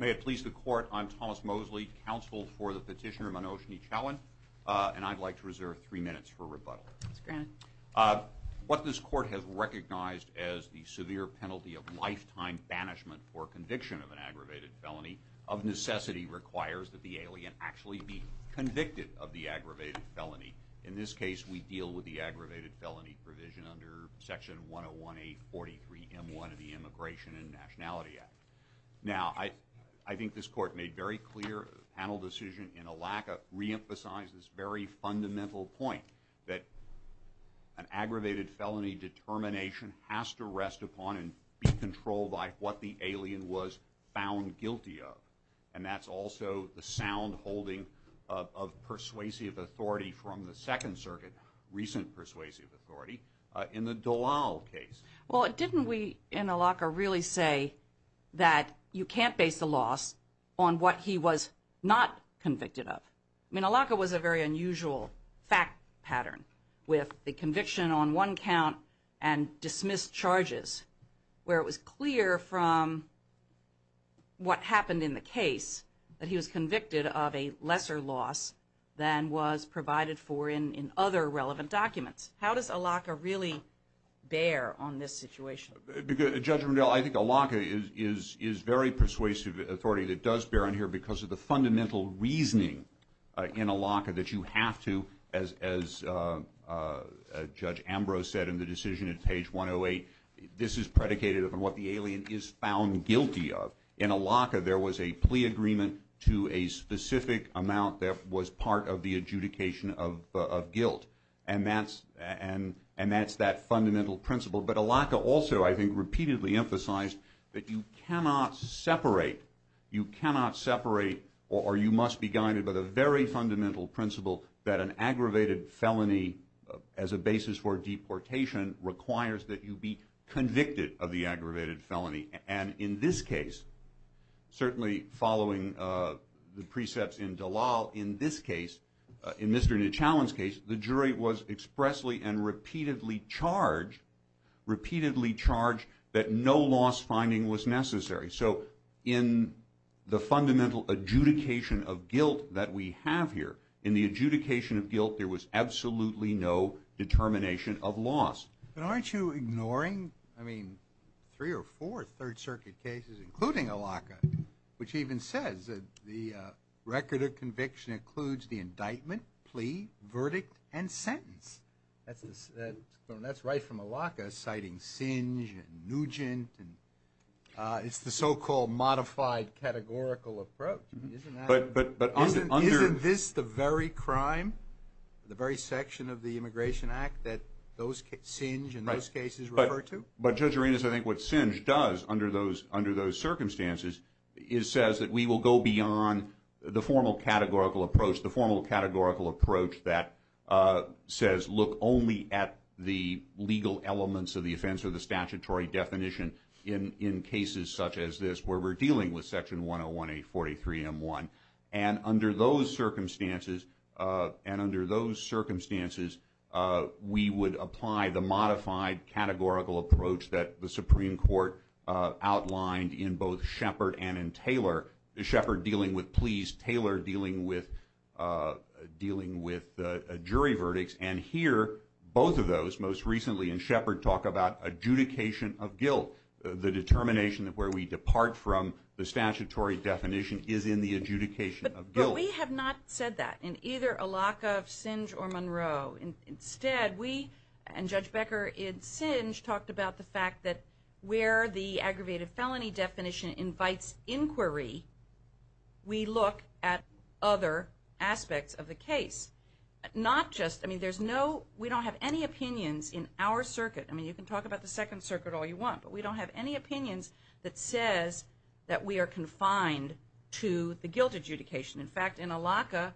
May it please the Court, I'm Thomas Mosley, counsel for the Petition Room on Oshinichawan. I'd like to reserve three minutes for rebuttal. What this Court has recognized as the severe penalty of lifetime banishment for conviction of an aggravated felony of necessity requires that the alien actually be convicted of the aggravated felony. In this case, we deal with the aggravated felony provision under Section 1018-43M1 of the Immigration and Nationality Act. Now, I think this Court made very clear panel decision in Alaca re-emphasizes this very fundamental point that an aggravated felony determination has to rest upon and be controlled by what the alien was found guilty of. And that's also the sound holding of persuasive authority from the Second Circuit, recent persuasive authority, in the Dallal case. Well, didn't we in Alaca really say that you can't base a loss on what he was not convicted of? I mean, Alaca was a very unusual fact pattern, with the conviction on one count and dismissed charges, where it was clear from what happened in the case that he was convicted of a lesser loss than was provided for in other relevant documents. How does Alaca really bear on this situation? Judge Rundell, I think Alaca is very persuasive authority that does bear on here because of the fundamental reasoning in Alaca that you have to, as Judge Ambrose said in the decision at page 108, this is predicated upon what the alien is found guilty of. In Alaca, there was a plea agreement to a specific amount that was part of the adjudication of guilt. And that's that fundamental principle. But Alaca also, I think, repeatedly emphasized that you cannot separate or you must be guided by the very fundamental principle that an aggravated felony as a basis for deportation requires that you be convicted of the aggravated felony. And in this case, certainly following the precepts in Dallal, in this case, in Mr. Nichallon's case, the jury was expressly and repeatedly charged that no loss finding was necessary. So in the fundamental adjudication of guilt that we have here, in the adjudication of guilt, there was absolutely no determination of loss. But aren't you ignoring, I mean, three or four Third Circuit cases, including Alaca, which even says that the record of conviction includes the indictment, plea, verdict, and sentence. That's right from Alaca, citing Singe and Nugent and it's the so-called modified categorical approach. Isn't this the very crime, the very section of the Immigration Act that Singe and those cases refer to? But Judge Arenas, I think what Singe does under those circumstances is says that we will go beyond the formal categorical approach, the formal categorical approach that says look only at the legal elements of the offense or the statutory definition in cases such as this where we're dealing with section 101A43M1. And under those circumstances, and under those circumstances, we would apply the modified categorical approach that the Supreme Court outlined in both Shepard and in Taylor, Shepard dealing with pleas, Taylor dealing with jury verdicts. And here, both of those, most recently in Shepard, talk about adjudication of guilt, the determination of where we depart from the statutory definition is in the adjudication of guilt. But we have not said that in either Alaca, Singe, or Monroe. Instead, we and Judge Becker in Singe talked about the fact that where the aggravated felony definition invites inquiry, we look at other aspects of the case. Not just, I mean, there's no, we don't have any opinions in our circuit. I mean, you can talk about the Second Circuit all you want, but we don't have any that we are confined to the guilt adjudication. In fact, in Alaca,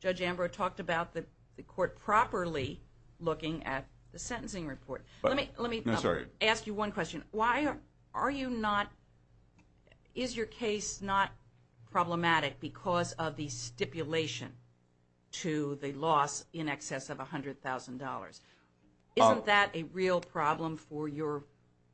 Judge Ambrose talked about the court properly looking at the sentencing report. Let me ask you one question. Why are you not, is your case not problematic because of the stipulation to the loss in excess of $100,000? Isn't that a real problem for your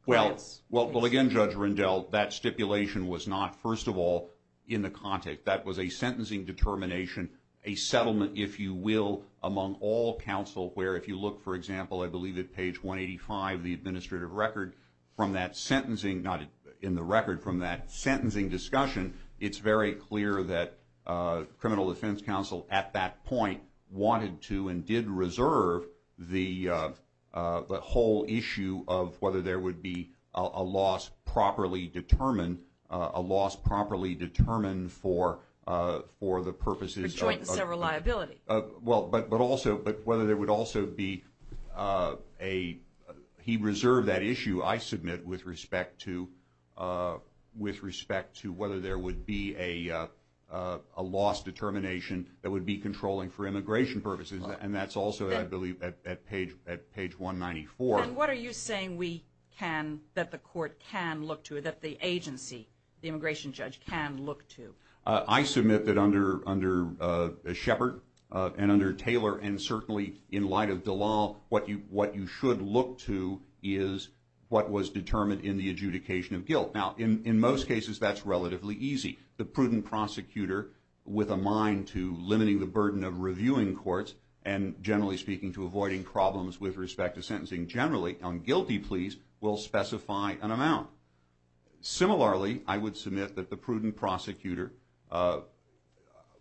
clients? Well, again, Judge Rendell, that stipulation was not, first of all, in the context. That was a sentencing determination, a settlement, if you will, among all counsel, where if you look, for example, I believe at page 185 of the administrative record from that sentencing, not in the record, from that sentencing discussion, it's very clear that Criminal Defense Counsel at that point wanted to and did reserve the whole issue of whether there would be a loss properly determined, a loss properly determined for the purposes of- A joint and several liability. Well, but also, whether there would also be a, he reserved that issue, I submit, with respect to whether there would be a loss determination that would be controlling for immigration purposes, and that's also, I believe, at page 194. And what are you saying we can, that the court can look to, that the agency, the immigration judge can look to? I submit that under Shepard and under Taylor and certainly in light of Dallal, what you should look to is what was determined in the adjudication of guilt. Now, in most cases, that's relatively easy. The prudent prosecutor with a mind to limiting the burden of reviewing courts and generally speaking to avoiding problems with respect to sentencing generally on guilty pleas will specify an amount. Similarly, I would submit that the prudent prosecutor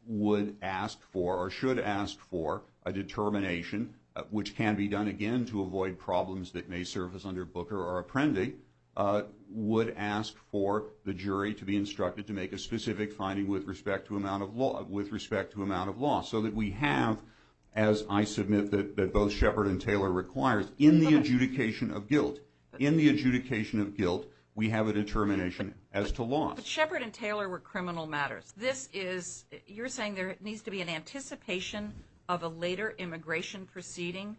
would ask for or should ask for a determination, which can be done again to avoid problems that may surface under Booker or Apprendi, would ask for the jury to be instructed to make a specific finding with respect to amount of loss so that we have, as I submit that both Shepard and Taylor requires, in the adjudication of guilt, in the adjudication of guilt, we have a determination as to loss. But Shepard and Taylor were criminal matters. This is, you're saying there needs to be an anticipation of a later immigration proceeding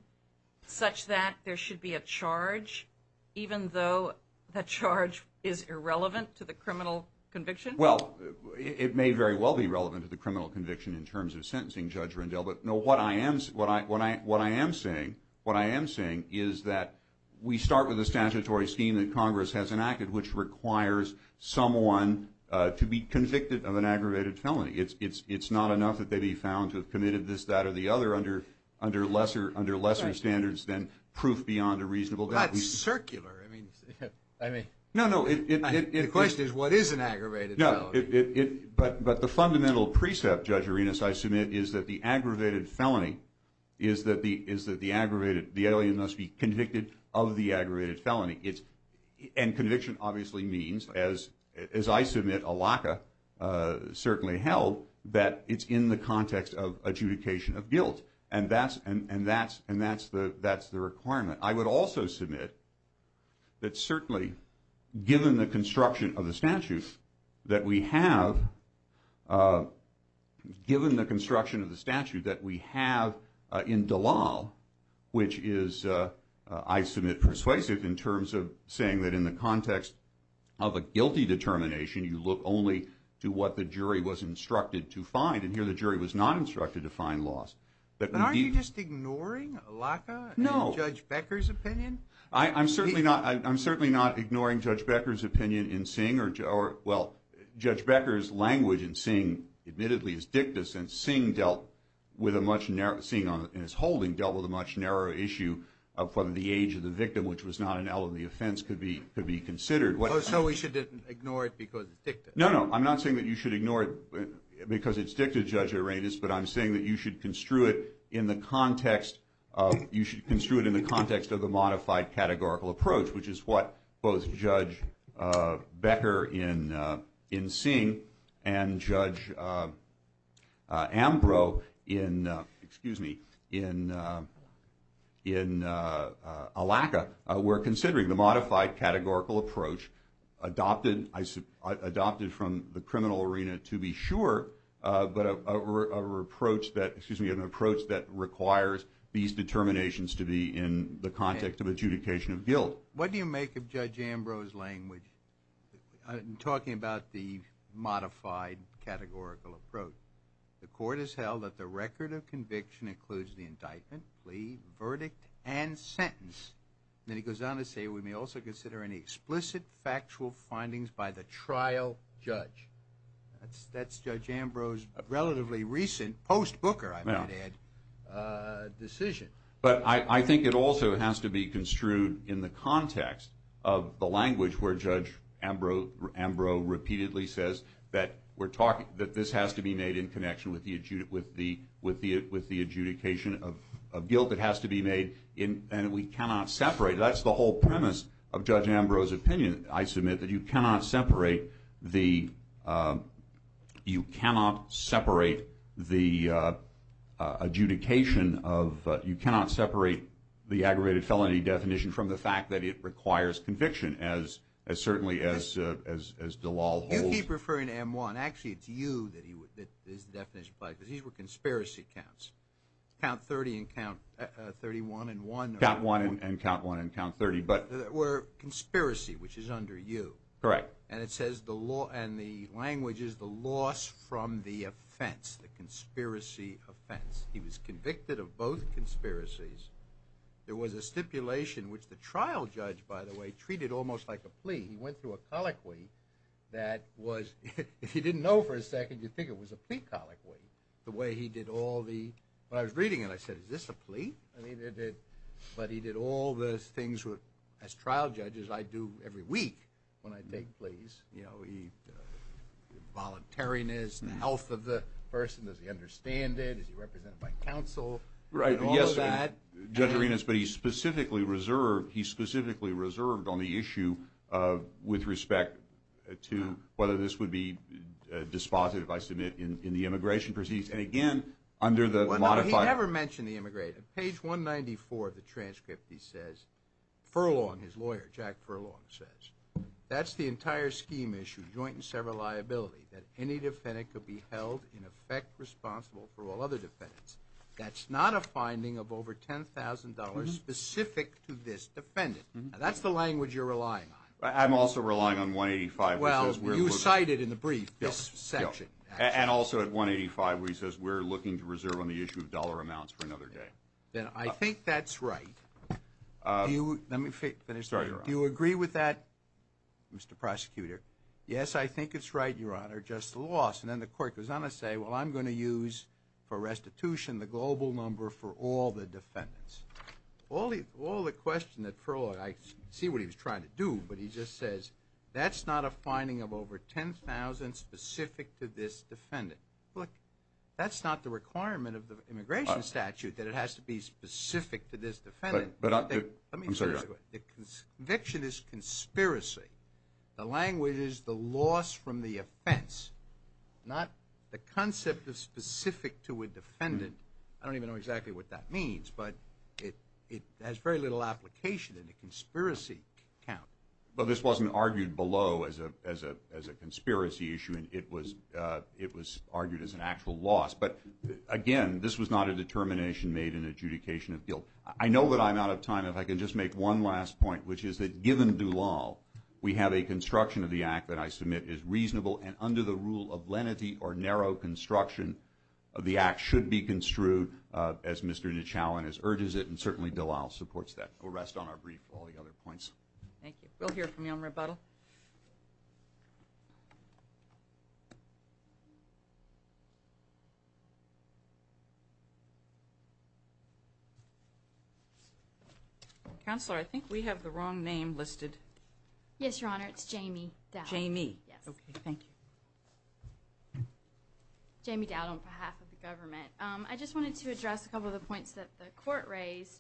such that there should be a charge even though the charge is irrelevant to the criminal conviction? Well, it may very well be relevant to the criminal conviction in terms of sentencing, Judge Rendell. But no, what I am saying is that we start with the statutory scheme that Congress has enacted, which requires someone to be convicted of an aggravated felony. It's not enough that they be found to have committed this, that, or the other under lesser standards than proof beyond a reasonable doubt. Well, that's circular. I mean, the question is, what is an aggravated felony? But the fundamental precept, Judge Arenas, I submit, is that the aggravated felony is that the aggravated, the alien must be convicted of the aggravated felony. And conviction obviously means, as I submit, ALACA certainly held, that it's in the context of adjudication of guilt. And that's the requirement. I would also submit that certainly, given the construction of the statute that we have in Dallal, which is, I submit, persuasive in terms of saying that in the context of a guilty determination, you look only to what the jury was instructed to find. And here the jury was not instructed to find loss. But aren't you just ignoring ALACA and Judge Becker's opinion? No. I'm certainly not ignoring Judge Becker's opinion in Singh or, well, Judge Becker's language in Singh, admittedly, is dictis. And Singh dealt with a much narrower, Singh in his holding, dealt with a much narrower issue of whether the age of the victim, which was not an element of the offense, could be considered. So we should ignore it because it's dictis? No, no. I'm not saying that you should ignore it because it's dictis, Judge Arenas. But I'm saying that you should construe it in the context of, you should construe it in the context of the Singh and Judge Ambrose in, excuse me, in ALACA, where considering the modified categorical approach adopted from the criminal arena to be sure, but an approach that requires these determinations to be in the context of adjudication of guilt. What do you make of Judge Ambrose's language in talking about the modified categorical approach? The court has held that the record of conviction includes the indictment, plea, verdict, and sentence. Then he goes on to say, we may also consider any explicit factual findings by the trial judge. That's Judge Ambrose's relatively recent, post-Booker, I might add, decision. But I think it also has to be construed in the context of the language where Judge Ambrose repeatedly says that this has to be made in connection with the adjudication of guilt. It has to be made, and we cannot separate. That's the whole premise of Judge Ambrose's opinion, I submit, that you cannot separate the adjudication of, you cannot separate the aggravated felony definition from the fact that it requires conviction, as certainly as Dallal holds. You keep referring to M1. Actually, it's you that is the definition applied, because these were conspiracy counts. Count 30 and count 31 and 1. Count 1 and count 1 and count 30. Were conspiracy, which is under you. Correct. And it says the law and the language is the loss from the offense, the conspiracy offense. He was convicted of both conspiracies. There was a stipulation, which the trial judge, by the way, treated almost like a plea. He went through a colloquy that was, if you didn't know for a second, you'd think it was a plea colloquy. The way he did all the, when I was reading it, I said, is this a plea? I mean, but he did all those things, as trial judges, I do every week when I take pleas. You know, the voluntariness, the health of the person, does he understand it? Is he represented by counsel? Right, yes, Judge Arenas, but he specifically reserved on the issue with respect to whether this would be dispositive, I submit, in the immigration proceedings. And again, under the- He never mentioned the immigrant. On page 194 of the transcript, he says, Furlong, his lawyer, Jack Furlong says, that's the entire scheme issue, joint and several liability, that any defendant could be held in effect responsible for all other defendants. That's not a finding of over $10,000 specific to this defendant. Now, that's the language you're relying on. I'm also relying on 185, which says- Well, you cited in the brief this section. And also at 185, where he says, we're looking to reserve on the issue of dollar amounts for another day. Then I think that's right. Let me finish. Sorry, Your Honor. Do you agree with that, Mr. Prosecutor? Yes, I think it's right, Your Honor, just the loss. And then the court goes on to say, well, I'm going to use, for restitution, the global number for all the defendants. All the question that Furlong, I see what he was trying to do, but he just says, that's not a finding of over $10,000 specific to this defendant. Look, that's not the requirement of the immigration statute, that it has to be specific to this defendant. But I'm sorry, Your Honor. The conviction is conspiracy. The language is the loss from the offense, not the concept of specific to a defendant. I don't even know exactly what that means. But it has very little application in the conspiracy count. But this wasn't argued below as a conspiracy issue. And it was argued as an actual loss. But again, this was not a determination made in adjudication of guilt. I know that I'm out of time. If I can just make one last point, which is that given Dulal, we have a construction of the act that I submit is reasonable. And under the rule of lenity or narrow construction, the act should be construed, as Mr. Nichow and his urges it. And certainly, Dulal supports that. We'll rest on our brief for all the other points. Thank you. We'll hear from you on rebuttal. Counselor, I think we have the wrong name listed. Yes, Your Honor. It's Jamie Dowdell. Jamie? Yes. Thank you. Jamie Dowdell on behalf of the government. I just wanted to address a couple of the points that the court raised.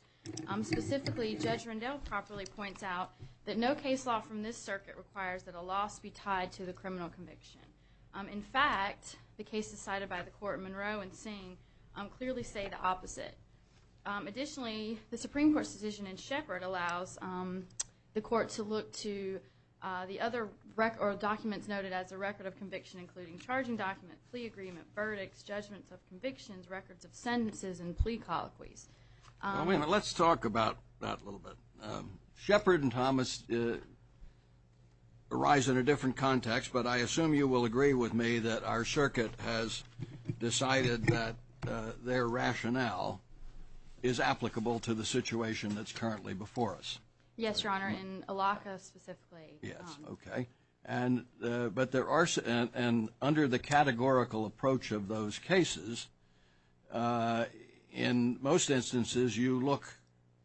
Specifically, Judge Rendell properly points out that no case law from this circuit requires that a loss be tied to the criminal conviction. In fact, the cases cited by the court, Monroe and Singh, clearly say the opposite. Additionally, the Supreme Court's decision in Shepherd allows the court to look to the other documents noted as a record of conviction, including charging document, plea agreement, verdicts, judgments of convictions, records of sentences, and plea colloquies. Let's talk about that a little bit. Shepherd and Thomas arise in a different context, but I assume you will agree with me that our circuit has decided that their rationale is applicable to the situation that's currently before us. Yes, Your Honor. In Allocca specifically. Yes. Okay. But there are – and under the categorical approach of those cases, in most instances, you look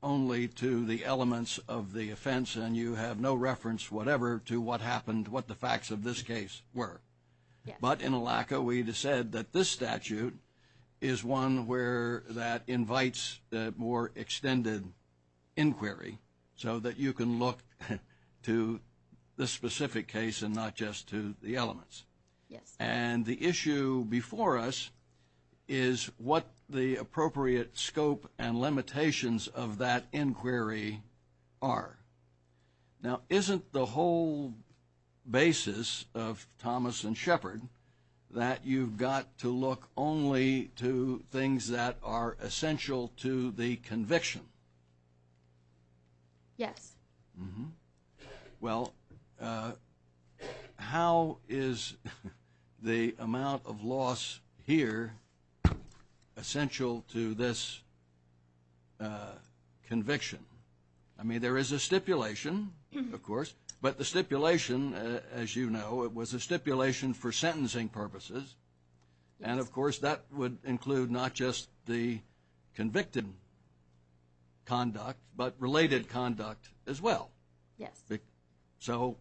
only to the elements of the offense and you have no reference whatever to what happened, what the facts of this case were. Yes. But in Allocca, we said that this statute is one where that invites more extended inquiry so that you can look to the specific case and not just to the elements. Yes. And the issue before us is what the appropriate scope and limitations of that inquiry are. Now, isn't the whole basis of Thomas and Shepherd that you've got to look only to things that are essential to the conviction? Yes. Well, how is the amount of loss here essential to this conviction? I mean, there is a stipulation, of course, but the stipulation, as you know, it was a stipulation for sentencing purposes. And of course, that would include not just the convicted conduct, but related conduct as well. Yes. So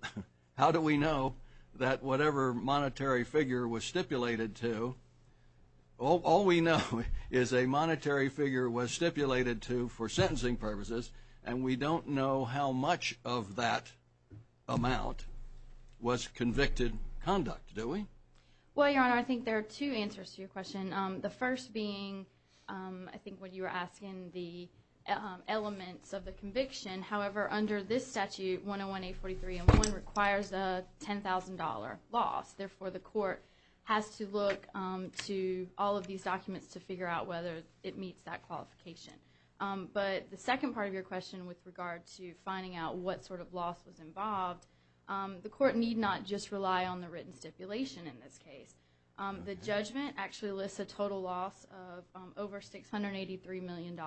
how do we know that whatever monetary figure was stipulated to – all we know is a monetary figure was stipulated to for sentencing purposes, and we don't know how much of that amount was convicted conduct, do we? Well, Your Honor, I think there are two answers to your question. The first being I think what you were asking, the elements of the conviction. However, under this statute, 101-843-11 requires a $10,000 loss. Therefore, the court has to look to all of these documents to figure out whether it meets that qualification. But the second part of your question with regard to finding out what sort of loss was in this case, the judgment actually lists a total loss of over $683 million.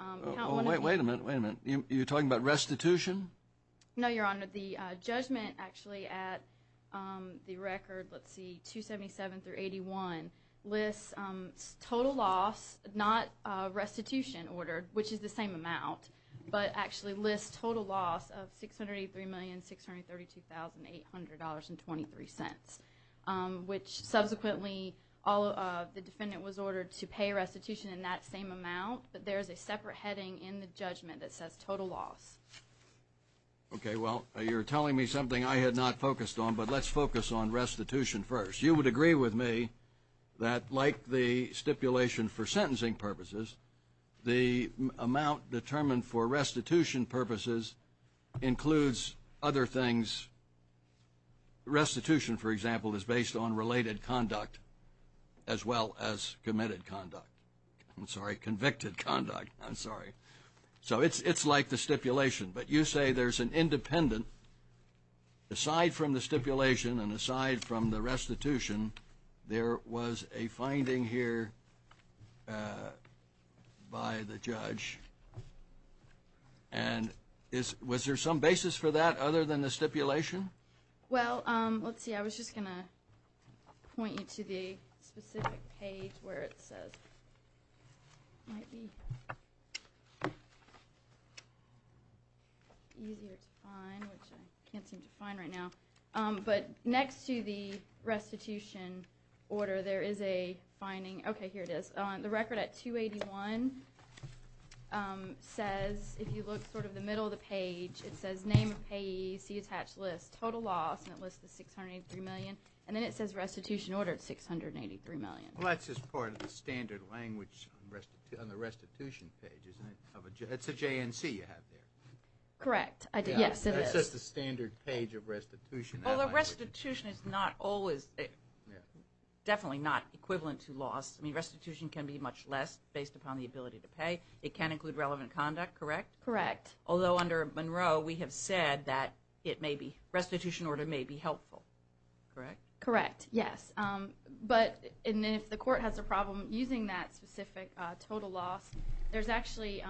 Oh, wait a minute, wait a minute. You're talking about restitution? No, Your Honor. The judgment actually at the record, let's see, 277 through 81, lists total loss, not restitution ordered, which is the same amount, but actually lists total loss of $683,632,800.23. Which subsequently, the defendant was ordered to pay restitution in that same amount, but there's a separate heading in the judgment that says total loss. Okay, well, you're telling me something I had not focused on, but let's focus on restitution first. You would agree with me that like the stipulation for sentencing purposes, the amount determined for restitution purposes includes other things. Restitution, for example, is based on related conduct as well as committed conduct. I'm sorry, convicted conduct, I'm sorry. So it's like the stipulation, but you say there's an independent, aside from the stipulation and aside from the restitution, there was a finding here by the judge, and was there some basis for that other than the stipulation? Well, let's see. I was just going to point you to the specific page where it says, might be easier to find, which I can't seem to find right now. But next to the restitution order, there is a finding. Okay, here it is. The record at 281 says, if you look sort of the middle of the page, it says name of payee, see attached list, total loss, and it lists the 683 million. And then it says restitution order at 683 million. Well, that's just part of the standard language on the restitution page, isn't it? It's a JNC you have there. Correct, yes, it is. That's just the standard page of restitution. Well, the restitution is not always, definitely not equivalent to loss. Restitution can be much less based upon the ability to pay. It can include relevant conduct, correct? Correct. Although under Monroe, we have said that restitution order may be helpful, correct? Correct, yes. But if the court has a problem using that specific total loss, there's actually,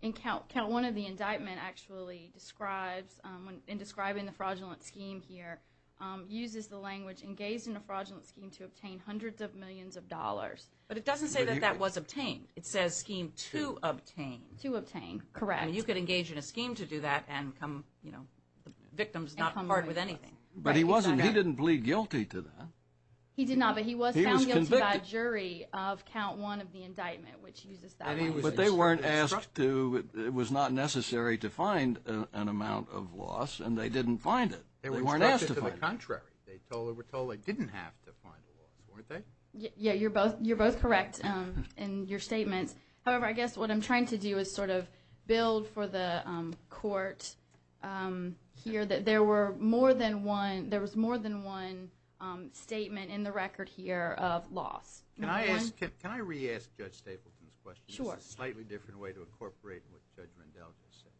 in count one of the indictment actually describes, in describing the fraudulent scheme here, uses the language engaged in a fraudulent scheme to obtain hundreds of millions of dollars. But it doesn't say that that was obtained. It says scheme to obtain. To obtain, correct. And you could engage in a scheme to do that and come, you know, victims not part with anything. But he wasn't, he didn't plead guilty to that. He did not, but he was found guilty by a jury of count one of the indictment, which uses that. But they weren't asked to, it was not necessary to find an amount of loss and they didn't find it. They were instructed to the contrary. They were told they didn't have to find a loss, weren't they? Yeah, you're both, you're both correct in your statements. However, I guess what I'm trying to do is sort of build for the court here that there were more than one, there was more than one statement in the record here of loss. Can I ask, can I re-ask Judge Stapleton's question? Sure. Slightly different way to incorporate what Judge Rundell just said.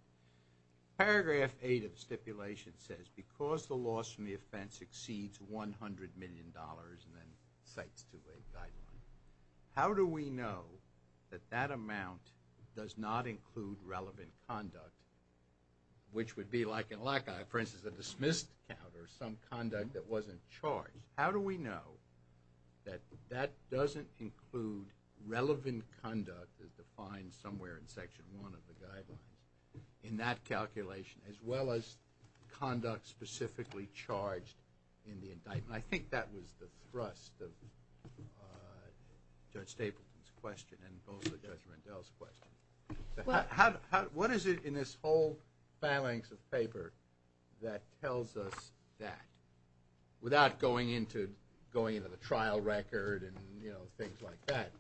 Paragraph eight of the stipulation says because the loss from the offense exceeds 100 million dollars and then cites two-way guideline, how do we know that that amount does not include relevant conduct, which would be like in LACA, for instance, a dismissed count or some conduct that wasn't charged. How do we know that that doesn't include relevant conduct as defined somewhere in that calculation as well as conduct specifically charged in the indictment? I think that was the thrust of Judge Stapleton's question and also Judge Rundell's question. What is it in this whole phalanx of paper that tells us that without going into, going into the trial record and, you know, things like that,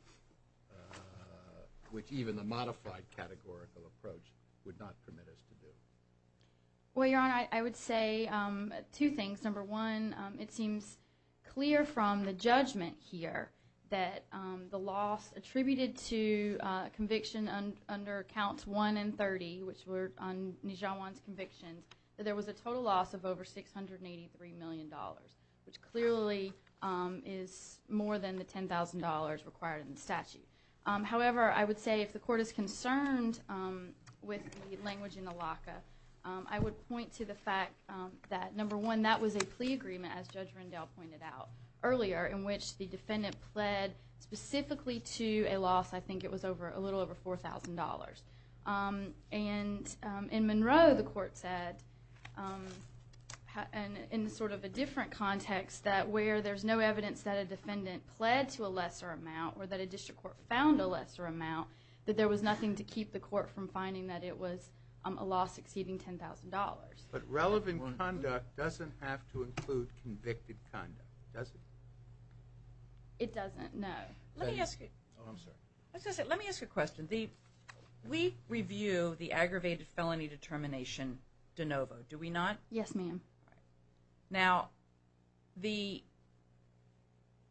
which even the modified categorical approach would not permit us to do? Well, Your Honor, I would say two things. Number one, it seems clear from the judgment here that the loss attributed to conviction under counts one and 30, which were on Nijawan's conviction, that there was a total loss of over 683 million dollars, which clearly is more than the 10,000 dollars required in the statute. However, I would say if the court is concerned with the language in the LACA, I would point to the fact that, number one, that was a plea agreement, as Judge Rundell pointed out earlier, in which the defendant pled specifically to a loss, I think it was over, a little over 4,000 dollars. And in Monroe, the court said, in sort of a different context, that where there's no to a lesser amount or that a district court found a lesser amount, that there was nothing to keep the court from finding that it was a loss exceeding 10,000 dollars. But relevant conduct doesn't have to include convicted conduct, does it? It doesn't, no. Let me ask you, let me ask you a question. We review the aggravated felony determination de novo, do we not? Yes, ma'am. Now, the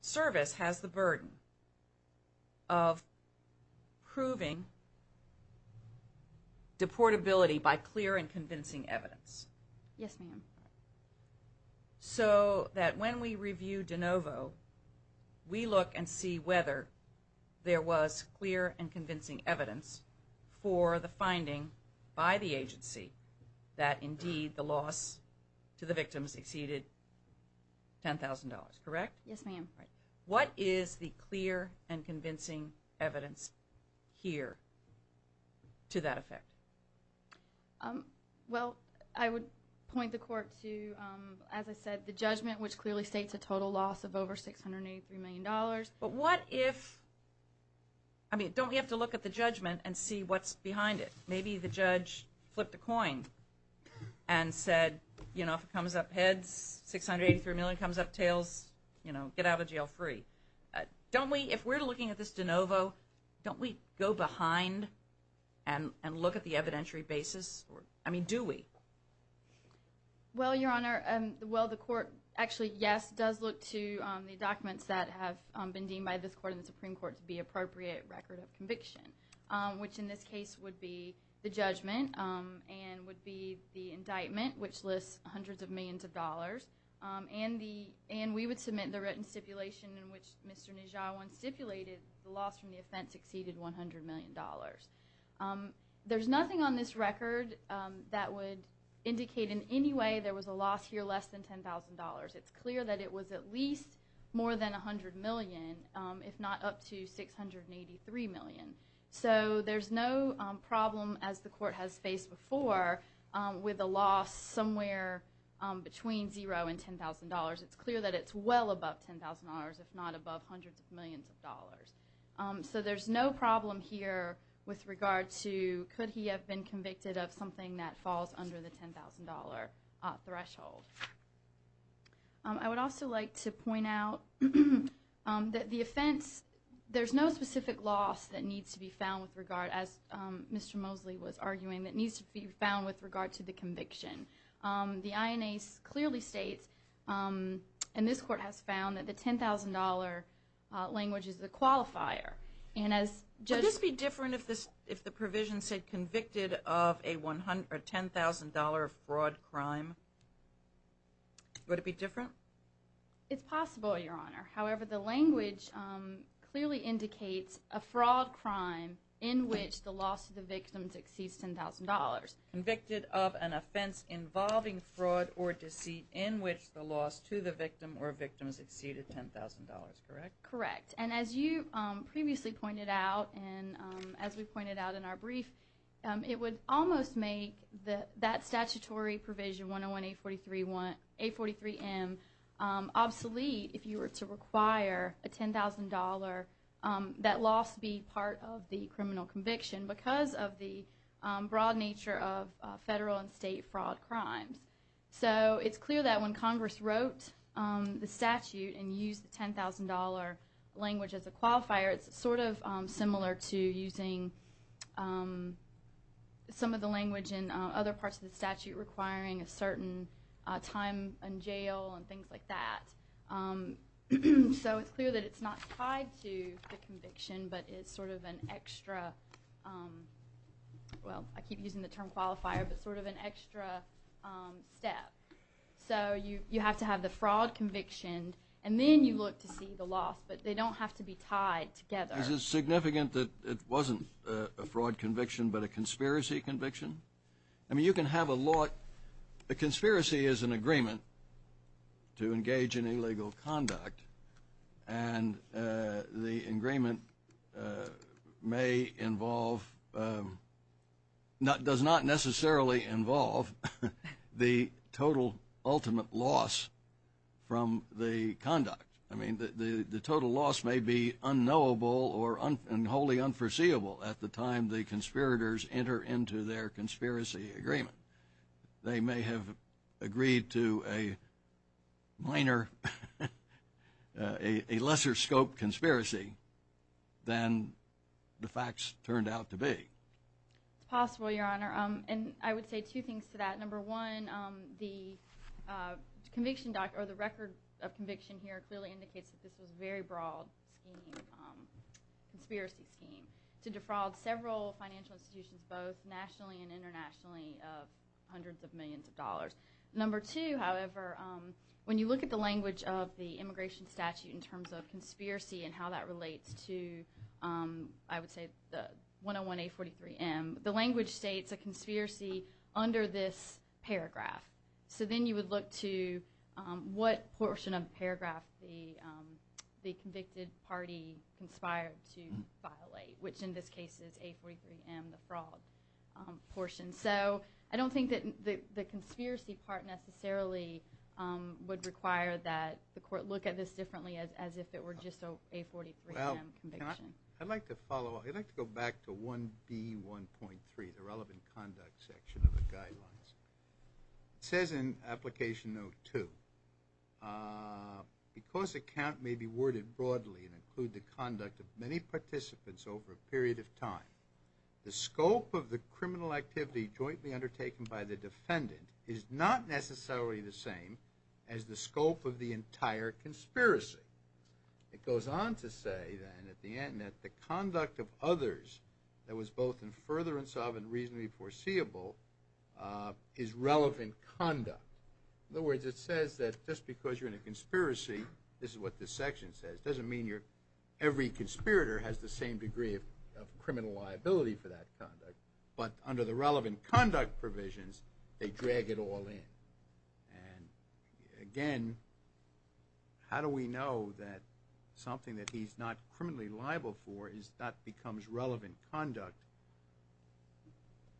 service has the burden of proving deportability by clear and convincing evidence. Yes, ma'am. So that when we review de novo, we look and see whether there was clear and convincing exceeded 10,000 dollars, correct? Yes, ma'am. What is the clear and convincing evidence here to that effect? Well, I would point the court to, as I said, the judgment, which clearly states a total loss of over 683 million dollars. But what if, I mean, don't we have to look at the judgment and see what's behind it? Maybe the judge flipped a coin and said, you know, if it comes up heads, 683 million comes up tails, you know, get out of jail free. Don't we, if we're looking at this de novo, don't we go behind and look at the evidentiary basis? I mean, do we? Well, Your Honor, well, the court actually, yes, does look to the documents that have been deemed by this court and the Supreme Court to be appropriate record of conviction, which in this case would be the judgment and would be the indictment, which lists hundreds of millions of dollars and the, and we would submit the written stipulation in which Mr. Nijhawan stipulated the loss from the offense exceeded 100 million dollars. There's nothing on this record that would indicate in any way there was a loss here less than 10,000 dollars. It's clear that it was at least more than 100 million, if not up to 683 million. So there's no problem, as the court has faced before, with a loss somewhere between zero and 10,000 dollars. It's clear that it's well above 10,000 dollars, if not above hundreds of millions of dollars. So there's no problem here with regard to could he have been convicted of something that falls under the 10,000 dollar threshold. I would also like to point out that the offense, there's no specific loss that needs to be found with regard, as Mr. Mosley was arguing, that needs to be found with regard to the conviction. The INA clearly states, and this court has found, that the 10,000 dollar language is the qualifier. And as Judge... Would this be different if the provision said convicted of a 10,000 dollar fraud crime? Would it be different? It's possible, Your Honor. However, the language clearly indicates a fraud crime in which the loss of the victim exceeds 10,000 dollars. Convicted of an offense involving fraud or deceit in which the loss to the victim or victim is exceeded 10,000 dollars, correct? Correct. And as you previously pointed out, and as we pointed out in our brief, it would almost make that statutory provision 101-843-M obsolete if you were to require a 10,000 dollar, that loss be part of the criminal conviction because of the broad nature of federal and state fraud crimes. So it's clear that when Congress wrote the statute and used the 10,000 dollar language as a qualifier, it's sort of similar to using some of the language in other parts of the statute requiring a certain time in jail and things like that. So it's clear that it's not tied to the conviction, but it's sort of an extra... Well, I keep using the term qualifier, but sort of an extra step. So you have to have the fraud conviction, and then you look to see the loss. They don't have to be tied together. Is it significant that it wasn't a fraud conviction, but a conspiracy conviction? I mean, you can have a lot... A conspiracy is an agreement to engage in illegal conduct, and the agreement may involve... does not necessarily involve the total ultimate loss from the conduct. I mean, the total loss may be unknowable or wholly unforeseeable at the time the conspirators enter into their conspiracy agreement. They may have agreed to a minor, a lesser scope conspiracy than the facts turned out to be. It's possible, Your Honor. And I would say two things to that. Number one, the record of conviction here clearly indicates that this was a very broad conspiracy scheme to defraud several financial institutions, both nationally and internationally, of hundreds of millions of dollars. Number two, however, when you look at the language of the immigration statute in terms of conspiracy and how that relates to, I would say, the 101A43M, the language states a conspiracy under this paragraph. So then you would look to what portion of the paragraph the convicted party conspired to violate, which in this case is A43M, the fraud portion. So I don't think that the conspiracy part necessarily would require that the court look at this differently as if it were just an A43M conviction. I'd like to follow up. I'd like to go back to 1B1.3, the relevant conduct section of the guidelines. It says in application note two, because a count may be worded broadly and include the conduct of many participants over a period of time, the scope of the criminal activity jointly undertaken by the defendant is not necessarily the same as the scope of the entire conspiracy. It goes on to say, then, at the end, that the conduct of others that was both in further insolvency and reasonably foreseeable is relevant conduct. In other words, it says that just because you're in a conspiracy, this is what this section says, doesn't mean every conspirator has the same degree of criminal liability for that conduct. But under the relevant conduct provisions, they drag it all in. And again, how do we know that something that he's not criminally liable for is not becomes relevant conduct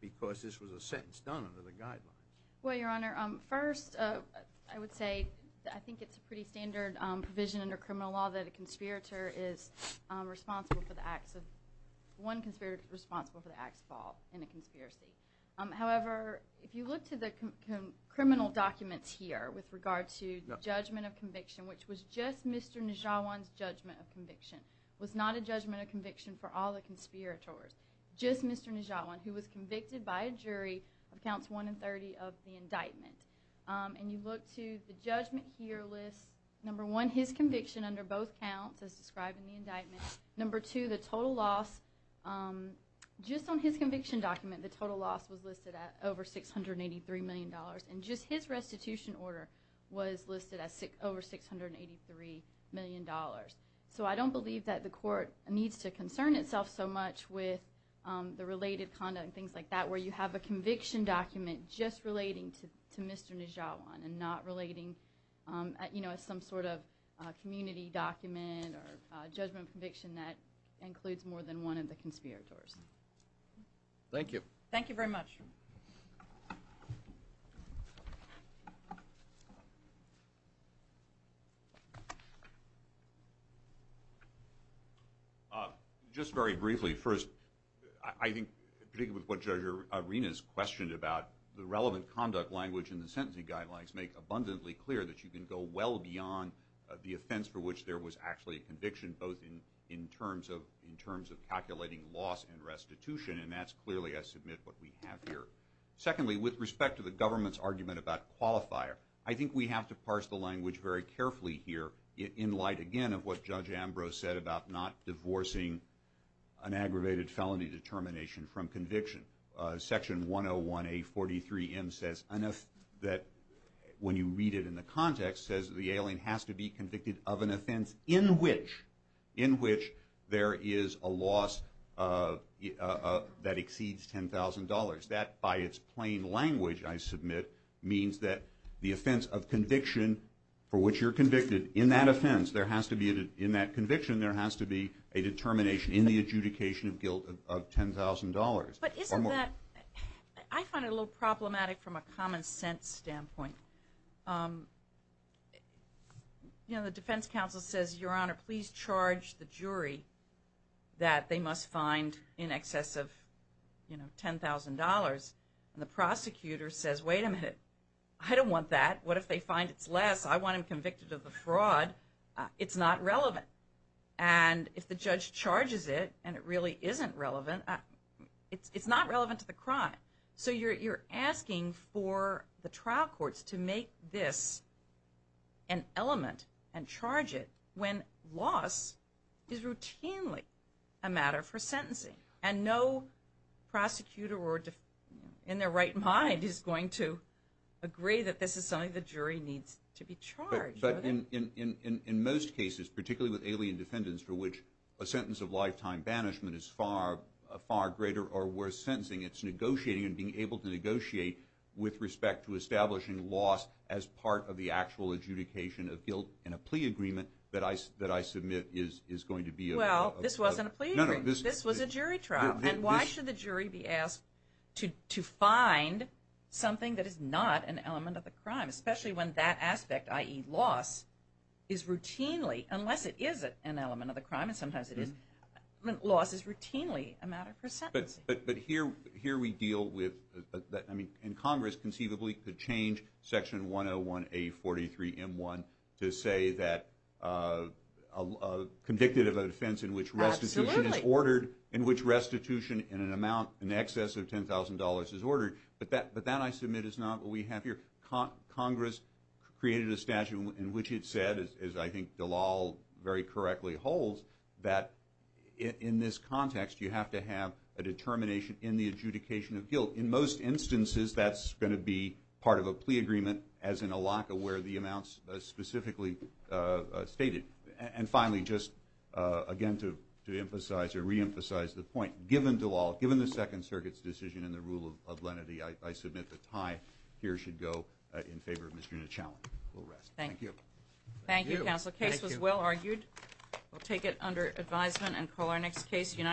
because this was a sentence done under the guidelines? Well, Your Honor, first, I would say I think it's a pretty standard provision under criminal law that a conspirator is responsible for the acts of – one conspirator is responsible for the acts involved in a conspiracy. However, if you look to the criminal documents here with regard to judgment of conviction, which was just Mr. Nijhawan's judgment of conviction, was not a judgment of conviction for all the conspirators, just Mr. Nijhawan, who was convicted by a jury of counts 1 and 30 of the indictment. And you look to the judgment here lists, number one, his conviction under both counts as described in the indictment. Number two, the total loss – just on his conviction document, the total loss was listed at over $683 million. And just his restitution order was listed as over $683 million. So I don't believe that the court needs to concern itself so much with the related conduct and things like that where you have a conviction document just relating to Mr. Nijhawan and not relating, you know, as some sort of community document or judgment of conviction that includes more than one of the conspirators. Thank you. Thank you very much. Just very briefly, first, I think particularly with what Judge Arena has questioned about the relevant conduct language in the sentencing guidelines make abundantly clear that you was actually a conviction both in terms of calculating loss and restitution. And that's clearly, I submit, what we have here. Secondly, with respect to the government's argument about qualifier, I think we have to parse the language very carefully here in light, again, of what Judge Ambrose said about not divorcing an aggravated felony determination from conviction. Section 101A43M says enough that when you read it in the context says the alien has to be convicted of an offense in which there is a loss that exceeds $10,000. That, by its plain language, I submit, means that the offense of conviction for which you're convicted in that offense, there has to be, in that conviction, there has to be a determination in the adjudication of guilt of $10,000. But isn't that, I find it a little problematic from a common sense standpoint. You know, the defense counsel says, your honor, please charge the jury that they must find in excess of, you know, $10,000. And the prosecutor says, wait a minute, I don't want that. What if they find it's less? I want him convicted of the fraud. It's not relevant. And if the judge charges it and it really isn't relevant, it's not relevant to the crime. So you're asking for the trial courts to make this an element and charge it when loss is routinely a matter for sentencing. And no prosecutor in their right mind is going to agree that this is something the jury needs to be charged. But in most cases, particularly with alien defendants for which a sentence of lifetime banishment is far greater or worse sentencing, it's negotiating and being able to negotiate with respect to establishing loss as part of the actual adjudication of guilt in a plea agreement that I submit is going to be a- Well, this wasn't a plea agreement. This was a jury trial. And why should the jury be asked to find something that is not an element of the crime, especially when that aspect, i.e. loss, is routinely, unless it is an element of the crime, and sometimes it is, loss is routinely a matter for sentencing. But here we deal with, I mean, in Congress conceivably could change section 101A43M1 to say that convicted of a defense in which restitution is ordered, in which restitution in an amount in excess of $10,000 is ordered. But that I submit is not what we have here. Congress created a statute in which it said, as I think Dalal very correctly holds, that in this context, you have to have a determination in the adjudication of guilt. In most instances, that's going to be part of a plea agreement, as in ALACA, where the amounts specifically stated. And finally, just again to emphasize or reemphasize the point, given Dalal, given the Second Circuit's decision and the rule of lenity, I submit the tie here should go in favor of Ms. Juneau-Challon. We'll rest. Thank you. Thank you, Counsel. The case was well argued. We'll take it under advisement and call our next case.